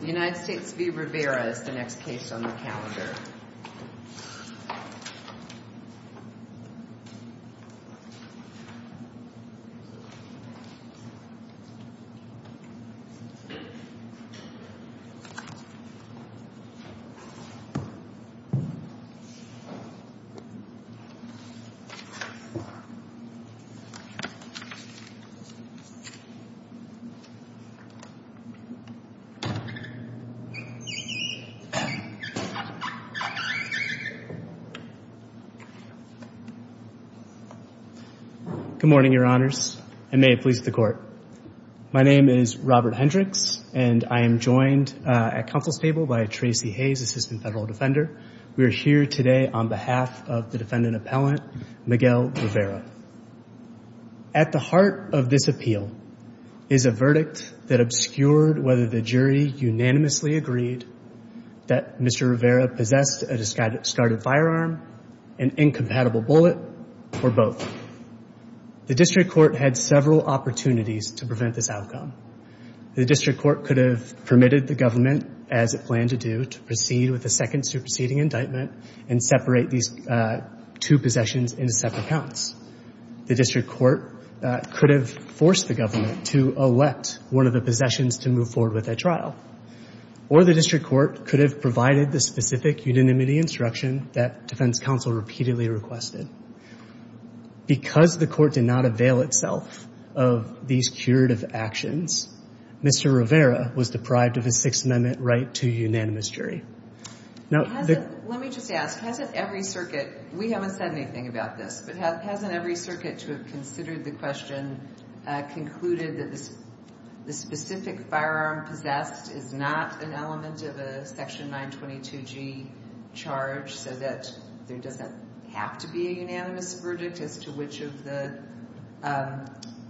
The United States v. Rivera is the next case on the calendar. Robert Hendricks Good morning, your honors, and may it please the court. My name is Robert Hendricks, and I am joined at counsel's table by Tracy Hayes, assistant federal defender. We are here today on behalf of the defendant appellant, Miguel Rivera. At the heart of this appeal is a verdict that obscured whether the jury unanimously agreed that Mr. Rivera possessed a discarded firearm, an incompatible bullet, or both. The district court had several opportunities to prevent this outcome. The district court could have permitted the government, as it planned to do, to proceed with the second superseding indictment and separate these two possessions into separate counts. The district court could have forced the government to elect one of the possessions to move forward with that trial. Or the district court could have provided the specific unanimity instruction that defense counsel repeatedly requested. Because the court did not avail itself of these curative actions, Mr. Rivera was deprived of a Sixth Amendment right to unanimous jury. Let me just ask, hasn't every circuit, we haven't said anything about this, but hasn't every circuit to have considered the question concluded that the specific firearm possessed is not an element of a section 922G charge so that there doesn't have to be a unanimous verdict as to which of the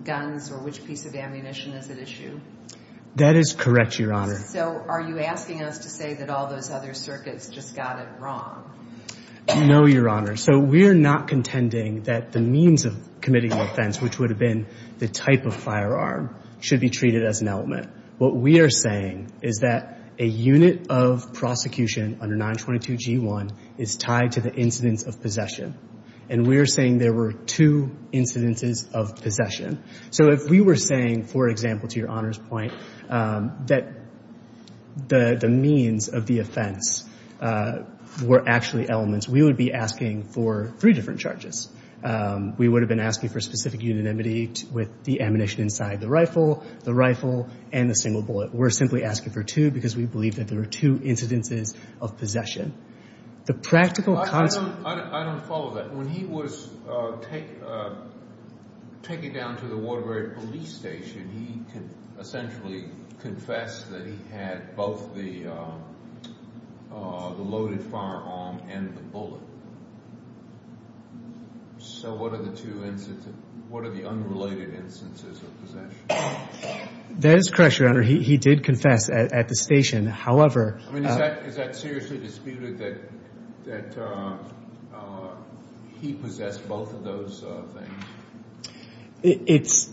guns or which piece of ammunition is at issue? That is correct, Your Honor. So are you asking us to say that all those other circuits just got it wrong? No, Your Honor. So we're not contending that the means of committing the offense, which would have been the type of firearm, should be treated as an element. What we are saying is that a unit of prosecution under 922G1 is tied to the incidence of possession. And we're saying there were two incidences of possession. So if we were saying, for example, to Your Honor's point, that the means of the offense were actually elements, we would be asking for three different charges. We would have been asking for specific unanimity with the ammunition inside the rifle, the rifle, and the single bullet. We're simply asking for two because we believe that there were two incidences of possession. The practical concept— I don't follow that. When he was taken down to the Waterbury Police Station, he essentially confessed that he had both the loaded firearm and the bullet. So what are the unrelated instances of possession? That is correct, Your Honor. He did confess at the station. However— I mean, is that seriously disputed, that he possessed both of those things?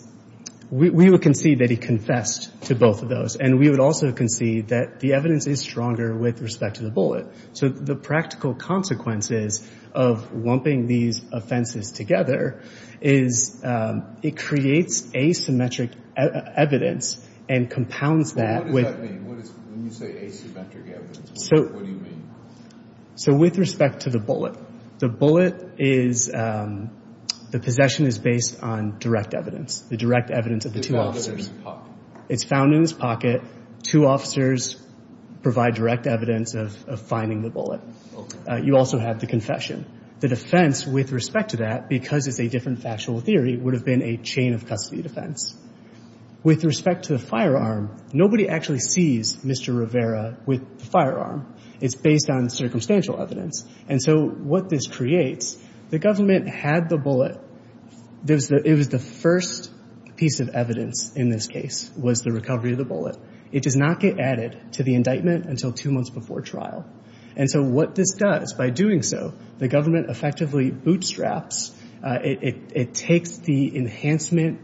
We would concede that he confessed to both of those. And we would also concede that the evidence is stronger with respect to the bullet. So the practical consequences of lumping these offenses together is it creates asymmetric evidence and compounds that with— What does that mean? When you say asymmetric evidence, what do you mean? So with respect to the bullet, the bullet is—the possession is based on direct evidence, the direct evidence of the two officers. It's found in his pocket. Two officers provide direct evidence of finding the bullet. You also have the confession. The defense with respect to that, because it's a different factual theory, would have been a chain of custody defense. With respect to the firearm, nobody actually sees Mr. Rivera with the firearm. It's based on circumstantial evidence. And so what this creates, the government had the bullet. It was the first piece of evidence in this case was the recovery of the bullet. It does not get added to the indictment until two months before trial. And so what this does, by doing so, the government effectively bootstraps— it takes the enhancement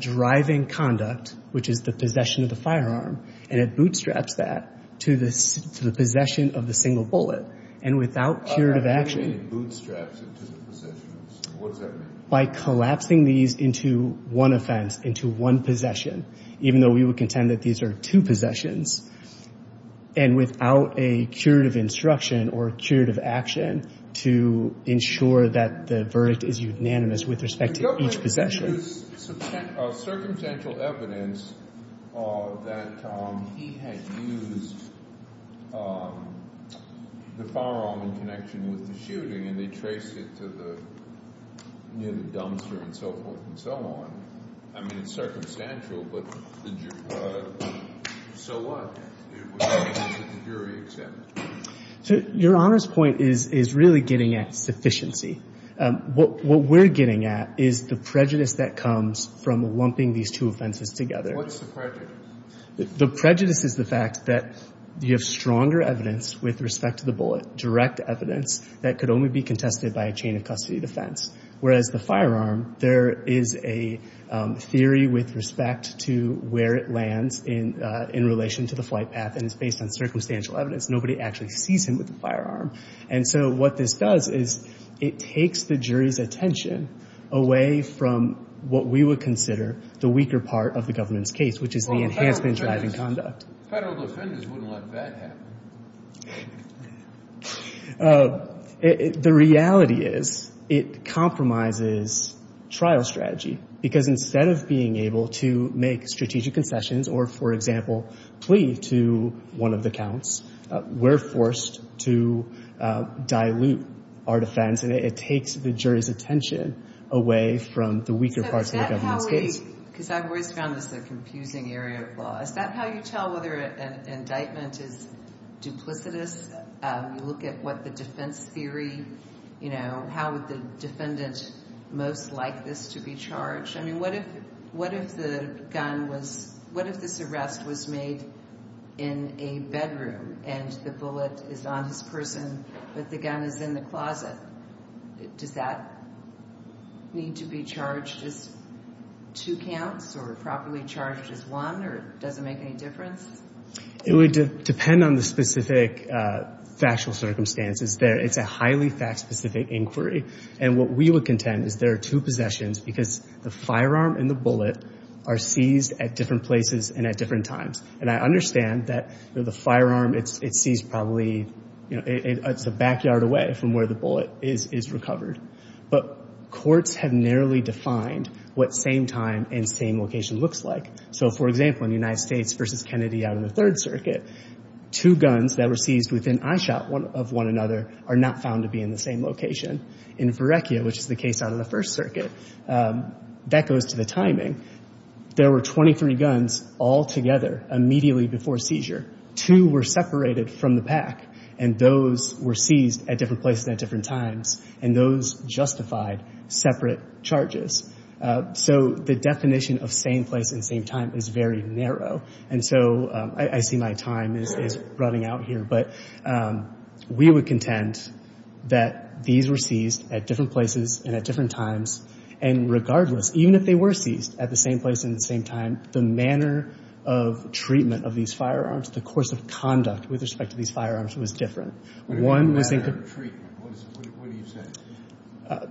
driving conduct, which is the possession of the firearm, and it bootstraps that to the possession of the single bullet. And without curative action— How do you mean bootstraps it to the possessions? What does that mean? By collapsing these into one offense, into one possession, even though we would contend that these are two possessions. And without a curative instruction or curative action to ensure that the verdict is unanimous with respect to each possession. The government used circumstantial evidence that he had used the firearm in connection with the shooting, and they traced it to the—near the dumpster and so forth and so on. I mean, it's circumstantial, but so what? It was evidence that the jury accepted. So Your Honor's point is really getting at sufficiency. What we're getting at is the prejudice that comes from lumping these two offenses together. What's the prejudice? The prejudice is the fact that you have stronger evidence with respect to the bullet, direct evidence that could only be contested by a chain of custody defense. Whereas the firearm, there is a theory with respect to where it lands in relation to the flight path, and it's based on circumstantial evidence. Nobody actually sees him with the firearm. And so what this does is it takes the jury's attention away from what we would consider the weaker part of the government's case, which is the enhancement driving conduct. Federal defendants wouldn't let that happen. The reality is it compromises trial strategy. Because instead of being able to make strategic concessions or, for example, plead to one of the counts, we're forced to dilute our defense. And it takes the jury's attention away from the weaker parts of the government's case. So is that how we, because I've always found this a confusing area of law, is that how you tell whether an indictment is duplicitous? You look at what the defense theory, you know, how would the defendant most like this to be charged? I mean, what if the gun was, what if this arrest was made in a bedroom and the bullet is on his person, but the gun is in the closet? Does that need to be charged as two counts or properly charged as one or does it make any difference? It would depend on the specific factual circumstances. It's a highly fact-specific inquiry. And what we would contend is there are two possessions because the firearm and the bullet are seized at different places and at different times. And I understand that the firearm, it's seized probably, you know, it's a backyard away from where the bullet is recovered. But courts have narrowly defined what same time and same location looks like. So, for example, in the United States versus Kennedy out in the Third Circuit, two guns that were seized within eyeshot of one another are not found to be in the same location. In Verrecchia, which is the case out of the First Circuit, that goes to the timing. There were 23 guns all together immediately before seizure. Two were separated from the pack and those were seized at different places at different times. And those justified separate charges. So the definition of same place and same time is very narrow. And so I see my time is running out here. But we would contend that these were seized at different places and at different times. And regardless, even if they were seized at the same place and the same time, the manner of treatment of these firearms, the course of conduct with respect to these firearms was different. One was in- Matter of treatment, what do you say?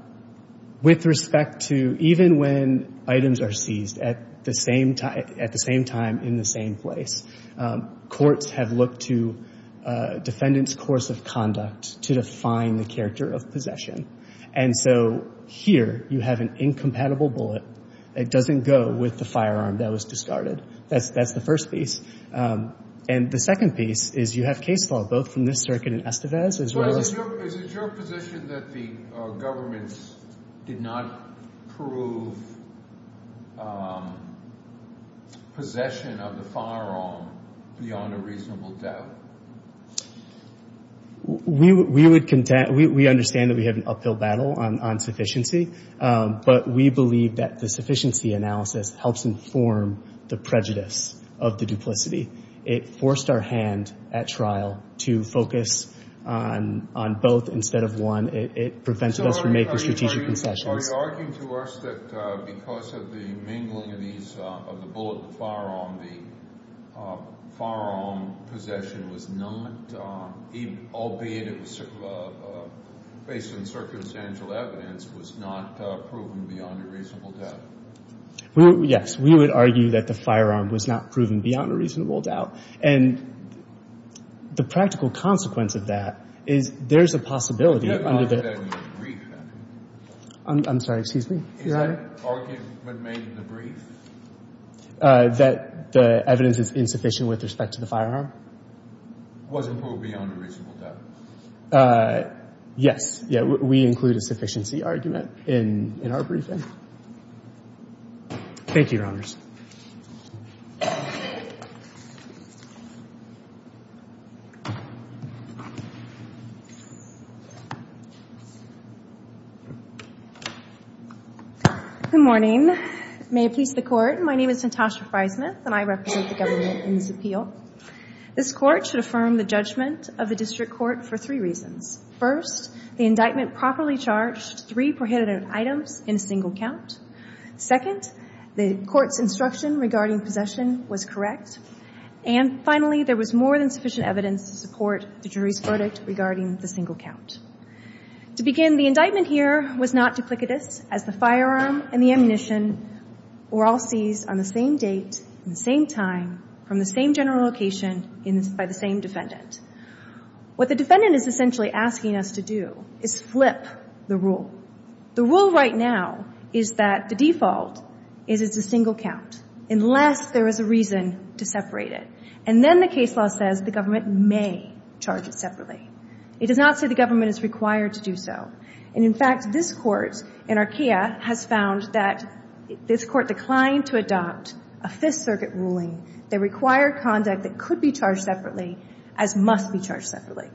With respect to even when items are seized at the same time, at the same time, in the same place. Courts have looked to defendant's course of conduct to define the character of possession. And so here you have an incompatible bullet. It doesn't go with the firearm that was discarded. That's the first piece. And the second piece is you have case law, both from this circuit and Estevez, as well as- You mentioned that the government did not prove possession of the firearm beyond a reasonable doubt. We understand that we have an uphill battle on sufficiency. But we believe that the sufficiency analysis helps inform the prejudice of the duplicity. It forced our hand at trial to focus on both instead of one. It prevented us from making strategic concessions. So are you arguing to us that because of the mingling of these, of the bullet and the firearm, the firearm possession was not, albeit it was based on circumstantial evidence, was not proven beyond a reasonable doubt? Yes. We would argue that the firearm was not proven beyond a reasonable doubt. And the practical consequence of that is there's a possibility under the- I'm sorry. Excuse me. Is that argument made in the brief? That the evidence is insufficient with respect to the firearm? Was it proved beyond a reasonable doubt? Yes. We include a sufficiency argument in our briefing. Thank you, Your Honors. Good morning. May it please the Court. My name is Natasha Friesmith, and I represent the government in this appeal. This Court should affirm the judgment of the District Court for three reasons. First, the indictment properly charged three prohibited items in a single count. Second, the Court's instruction regarding possession was correct. And finally, there was more than sufficient evidence to support the jury's verdict regarding the single count. To begin, the indictment here was not duplicitous, as the firearm and the ammunition were all seized on the same date and the same time from the same general location by the same defendant. What the defendant is essentially asking us to do is flip the rule. The rule right now is that the default is it's a single count, unless there is a reason to separate it. And then the case law says the government may charge it separately. It does not say the government is required to do so. And in fact, this Court in Archaea has found that this Court declined to adopt a Fifth Circuit ruling that required conduct that could be charged separately as must be charged separately.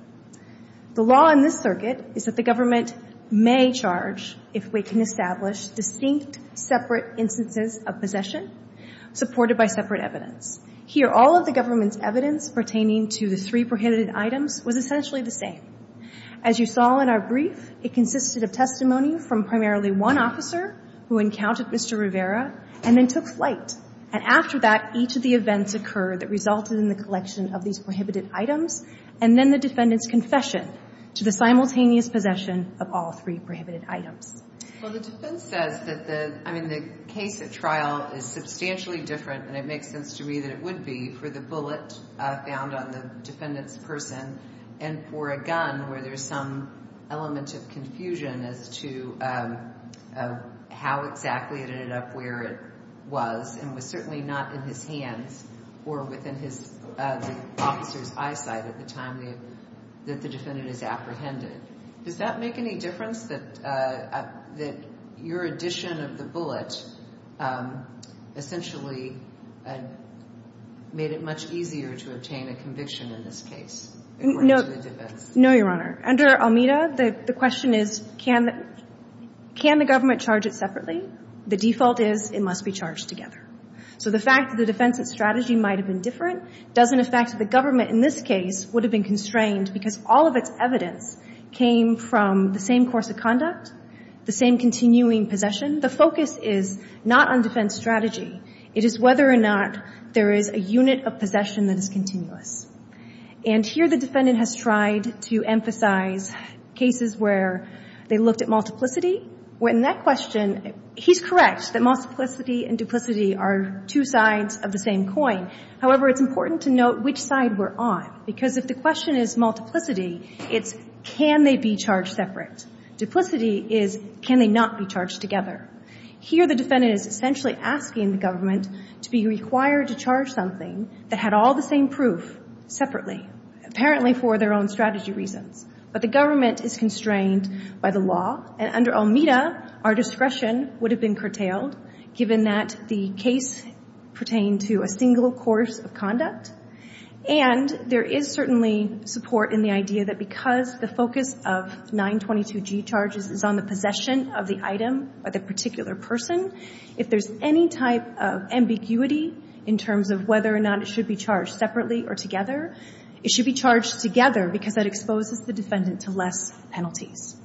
The law in this circuit is that the government may charge if we can establish distinct, separate instances of possession supported by separate evidence. Here, all of the government's evidence pertaining to the three prohibited items was essentially the same. As you saw in our brief, it consisted of testimony from primarily one officer who encountered Mr. Rivera and then took flight. And after that, each of the events occurred that resulted in the collection of these prohibited items and then the defendant's confession to the simultaneous possession of all three prohibited items. Well, the defense says that the case at trial is substantially different, and it makes sense to me that it would be, for the bullet found on the defendant's person and for a gun where there's some element of confusion as to how exactly it ended up where it was and was certainly not in his hands or within the officer's eyesight at the time that the defendant is apprehended. Does that make any difference that your addition of the bullet essentially made it much easier to obtain a conviction in this case? No, Your Honor. Under Almeda, the question is, can the government charge it separately? The default is it must be charged together. So the fact that the defense's strategy might have been different doesn't affect the government in this case would have been constrained because all of its evidence came from the same course of conduct, the same continuing possession. The focus is not on defense strategy. It is whether or not there is a unit of possession that is continuous. And here the defendant has tried to emphasize cases where they looked at multiplicity. In that question, he's correct that multiplicity and duplicity are two sides of the same coin. However, it's important to note which side we're on because if the question is multiplicity, it's can they be charged separate. Duplicity is can they not be charged together. Here the defendant is essentially asking the government to be required to charge something that had all the same proof separately, apparently for their own strategy reasons. But the government is constrained by the law. And under Almeda, our discretion would have been curtailed given that the case pertained to a single course of conduct. And there is certainly support in the idea that because the focus of 922G charges is on the possession of the item, or the particular person, if there's any type of ambiguity in terms of whether or not it should be charged separately or together, it should be charged together because that exposes the defendant to less penalties.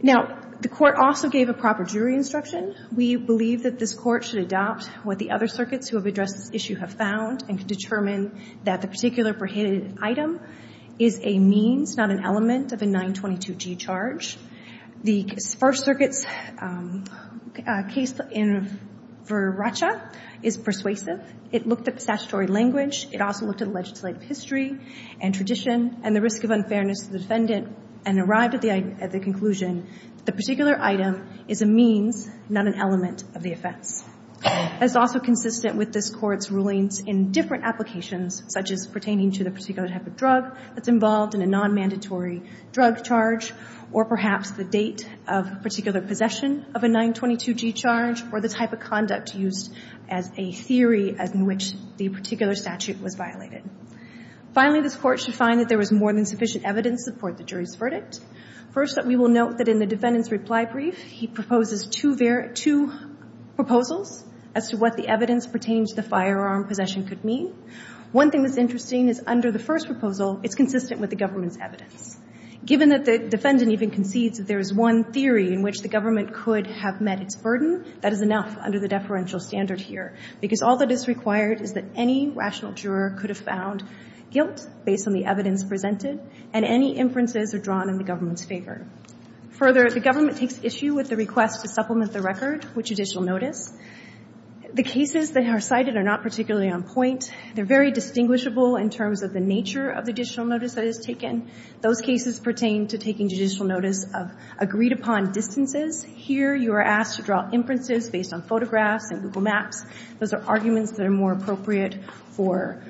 Now, the Court also gave a proper jury instruction. We believe that this Court should adopt what the other circuits who have addressed this issue have found and can determine that the particular prohibited item is a means, not an element, of a 922G charge. The First Circuit's case for Racha is persuasive. It looked at statutory language. It also looked at legislative history and tradition and the risk of unfairness to the defendant and arrived at the conclusion that the particular item is a means, not an element, of the offense. That's also consistent with this Court's rulings in different applications, such as pertaining to the particular type of drug that's involved in a nonmandatory drug charge, or perhaps the date of particular possession of a 922G charge, or the type of conduct used as a theory in which the particular statute was violated. Finally, this Court should find that there is more than sufficient evidence to support the jury's verdict. First, we will note that in the defendant's reply brief, he proposes two proposals as to what the evidence pertaining to the firearm possession could mean. One thing that's interesting is under the first proposal, it's consistent with the government's evidence. Given that the defendant even concedes that there is one theory in which the government could have met its burden, that is enough under the deferential standard here, because all that is required is that any rational juror could have found guilt based on the evidence presented, and any inferences are drawn in the government's favor. Further, the government takes issue with the request to supplement the record with judicial notice. The cases that are cited are not particularly on point. They're very distinguishable in terms of the nature of the judicial notice that is taken. Those cases pertain to taking judicial notice of agreed-upon distances. Here, you are asked to draw inferences based on photographs and Google Maps. Those are arguments that are more appropriate for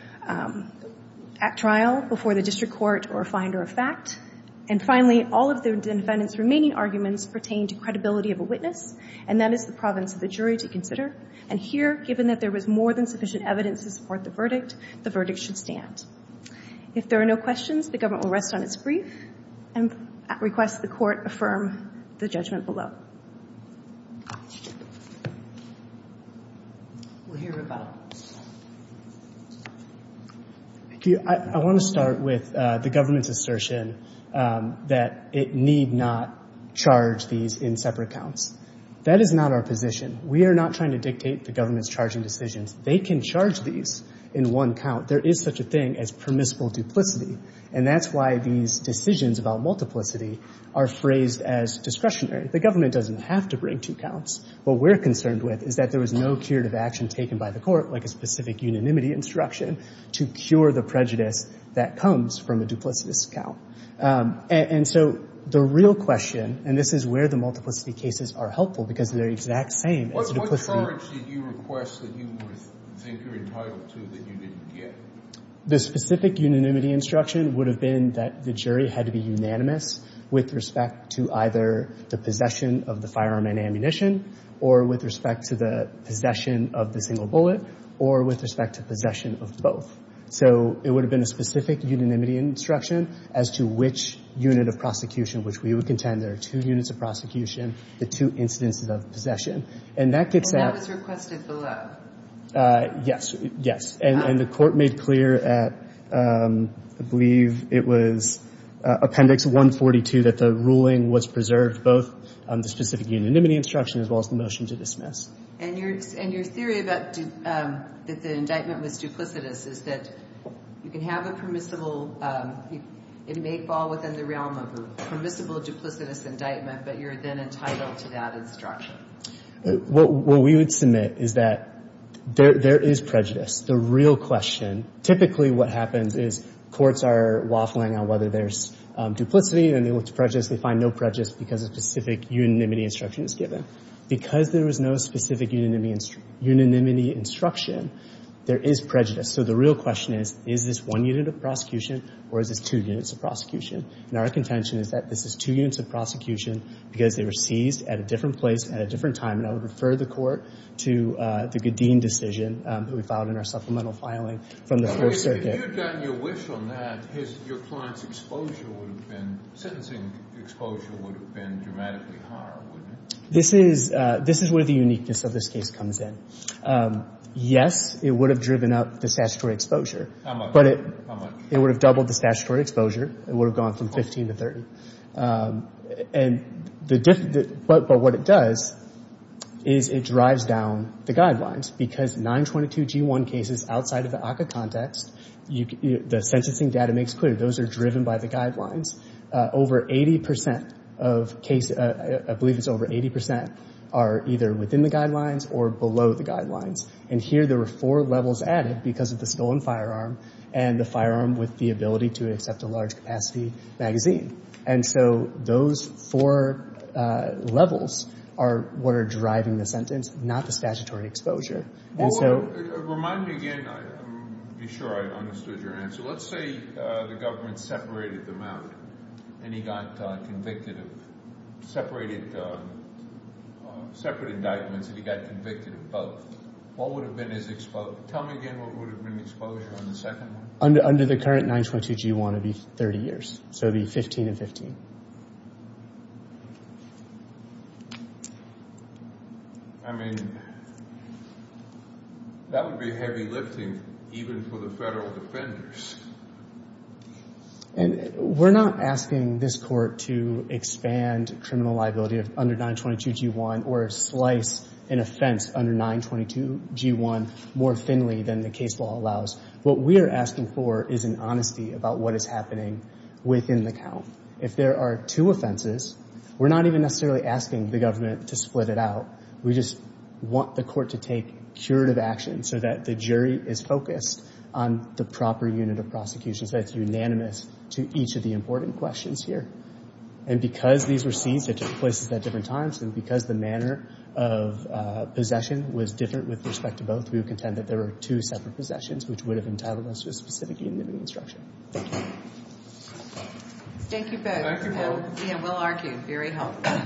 at trial, before the district court, or a finder of fact. And finally, all of the defendant's remaining arguments pertain to credibility of a witness, and that is the province of the jury to consider. And here, given that there was more than sufficient evidence to support the verdict, the verdict should stand. If there are no questions, the government will rest on its brief and request the court affirm the judgment below. We'll hear rebuttal. Thank you. I want to start with the government's assertion that it need not charge these in separate counts. That is not our position. We are not trying to dictate the government's charging decisions. They can charge these in one count. There is such a thing as permissible duplicity, and that's why these decisions about multiplicity are phrased as discretionary. The government doesn't have to bring two counts. What we're concerned with is that there was no curative action taken by the court, like a specific unanimity instruction, to cure the prejudice that comes from a duplicitous count. And so the real question, and this is where the multiplicity cases are helpful, because they're the exact same. What charge did you request that you think you're entitled to that you didn't get? The specific unanimity instruction would have been that the jury had to be unanimous with respect to either the possession of the firearm and ammunition, or with respect to the possession of the single bullet, or with respect to possession of both. So it would have been a specific unanimity instruction as to which unit of prosecution, which we would contend there are two units of prosecution, the two instances of possession. And that gets at... And that was requested below? Yes, yes. And the court made clear at, I believe it was Appendix 142, that the ruling was preserved both on the specific unanimity instruction as well as the motion to dismiss. And your theory that the indictment was duplicitous is that you can have a permissible... It may fall within the realm of a permissible duplicitous indictment, but you're then entitled to that instruction. What we would submit is that there is prejudice. The real question, typically what happens is courts are waffling on whether there's duplicity, and they look to prejudice, they find no prejudice because a specific unanimity instruction is given. Because there was no specific unanimity instruction, there is prejudice. So the real question is, is this one unit of prosecution, or is this two units of prosecution? And our contention is that this is two units of prosecution because they were seized at a different place at a different time. And I would refer the court to the Gadeen decision that we filed in our supplemental filing from the First Circuit. If you had gotten your wish on that, your client's exposure would have been... Sentencing exposure would have been dramatically higher, wouldn't it? This is where the uniqueness of this case comes in. Yes, it would have driven up the statutory exposure. How much? It would have doubled the statutory exposure. It would have gone from 15 to 30. But what it does is it drives down the guidelines. Because 922 G1 cases outside of the ACCA context, the sentencing data makes clear those are driven by the guidelines. Over 80% of cases, I believe it's over 80%, are either within the guidelines or below the guidelines. And here there were four levels added because of the stolen firearm and the firearm with the ability to accept a large capacity magazine. And so those four levels are what are driving the sentence, not the statutory exposure. Well, remind me again. I'm sure I understood your answer. So let's say the government separated them out and he got convicted of... Separated... Separate indictments and he got convicted of both. What would have been his exposure? Tell me again what would have been the exposure on the second one? Under the current 922 G1, it would be 30 years. So it would be 15 and 15. I mean... That would be heavy lifting even for the federal defenders. And we're not asking this court to expand criminal liability under 922 G1 or slice an offense under 922 G1 more thinly than the case law allows. What we are asking for is an honesty about what is happening within the count. If there are two offenses, we're not even necessarily asking the government to split it out. We just want the court to take curative action so that the jury is focused on the proper unit of prosecution. So it's unanimous to each of the important questions here. And because these were scenes that took place at different times and because the manner of possession was different with respect to both, we would contend that there were two separate possessions which would have entitled us to a specific unit of instruction. Thank you both. We'll argue. Very helpful.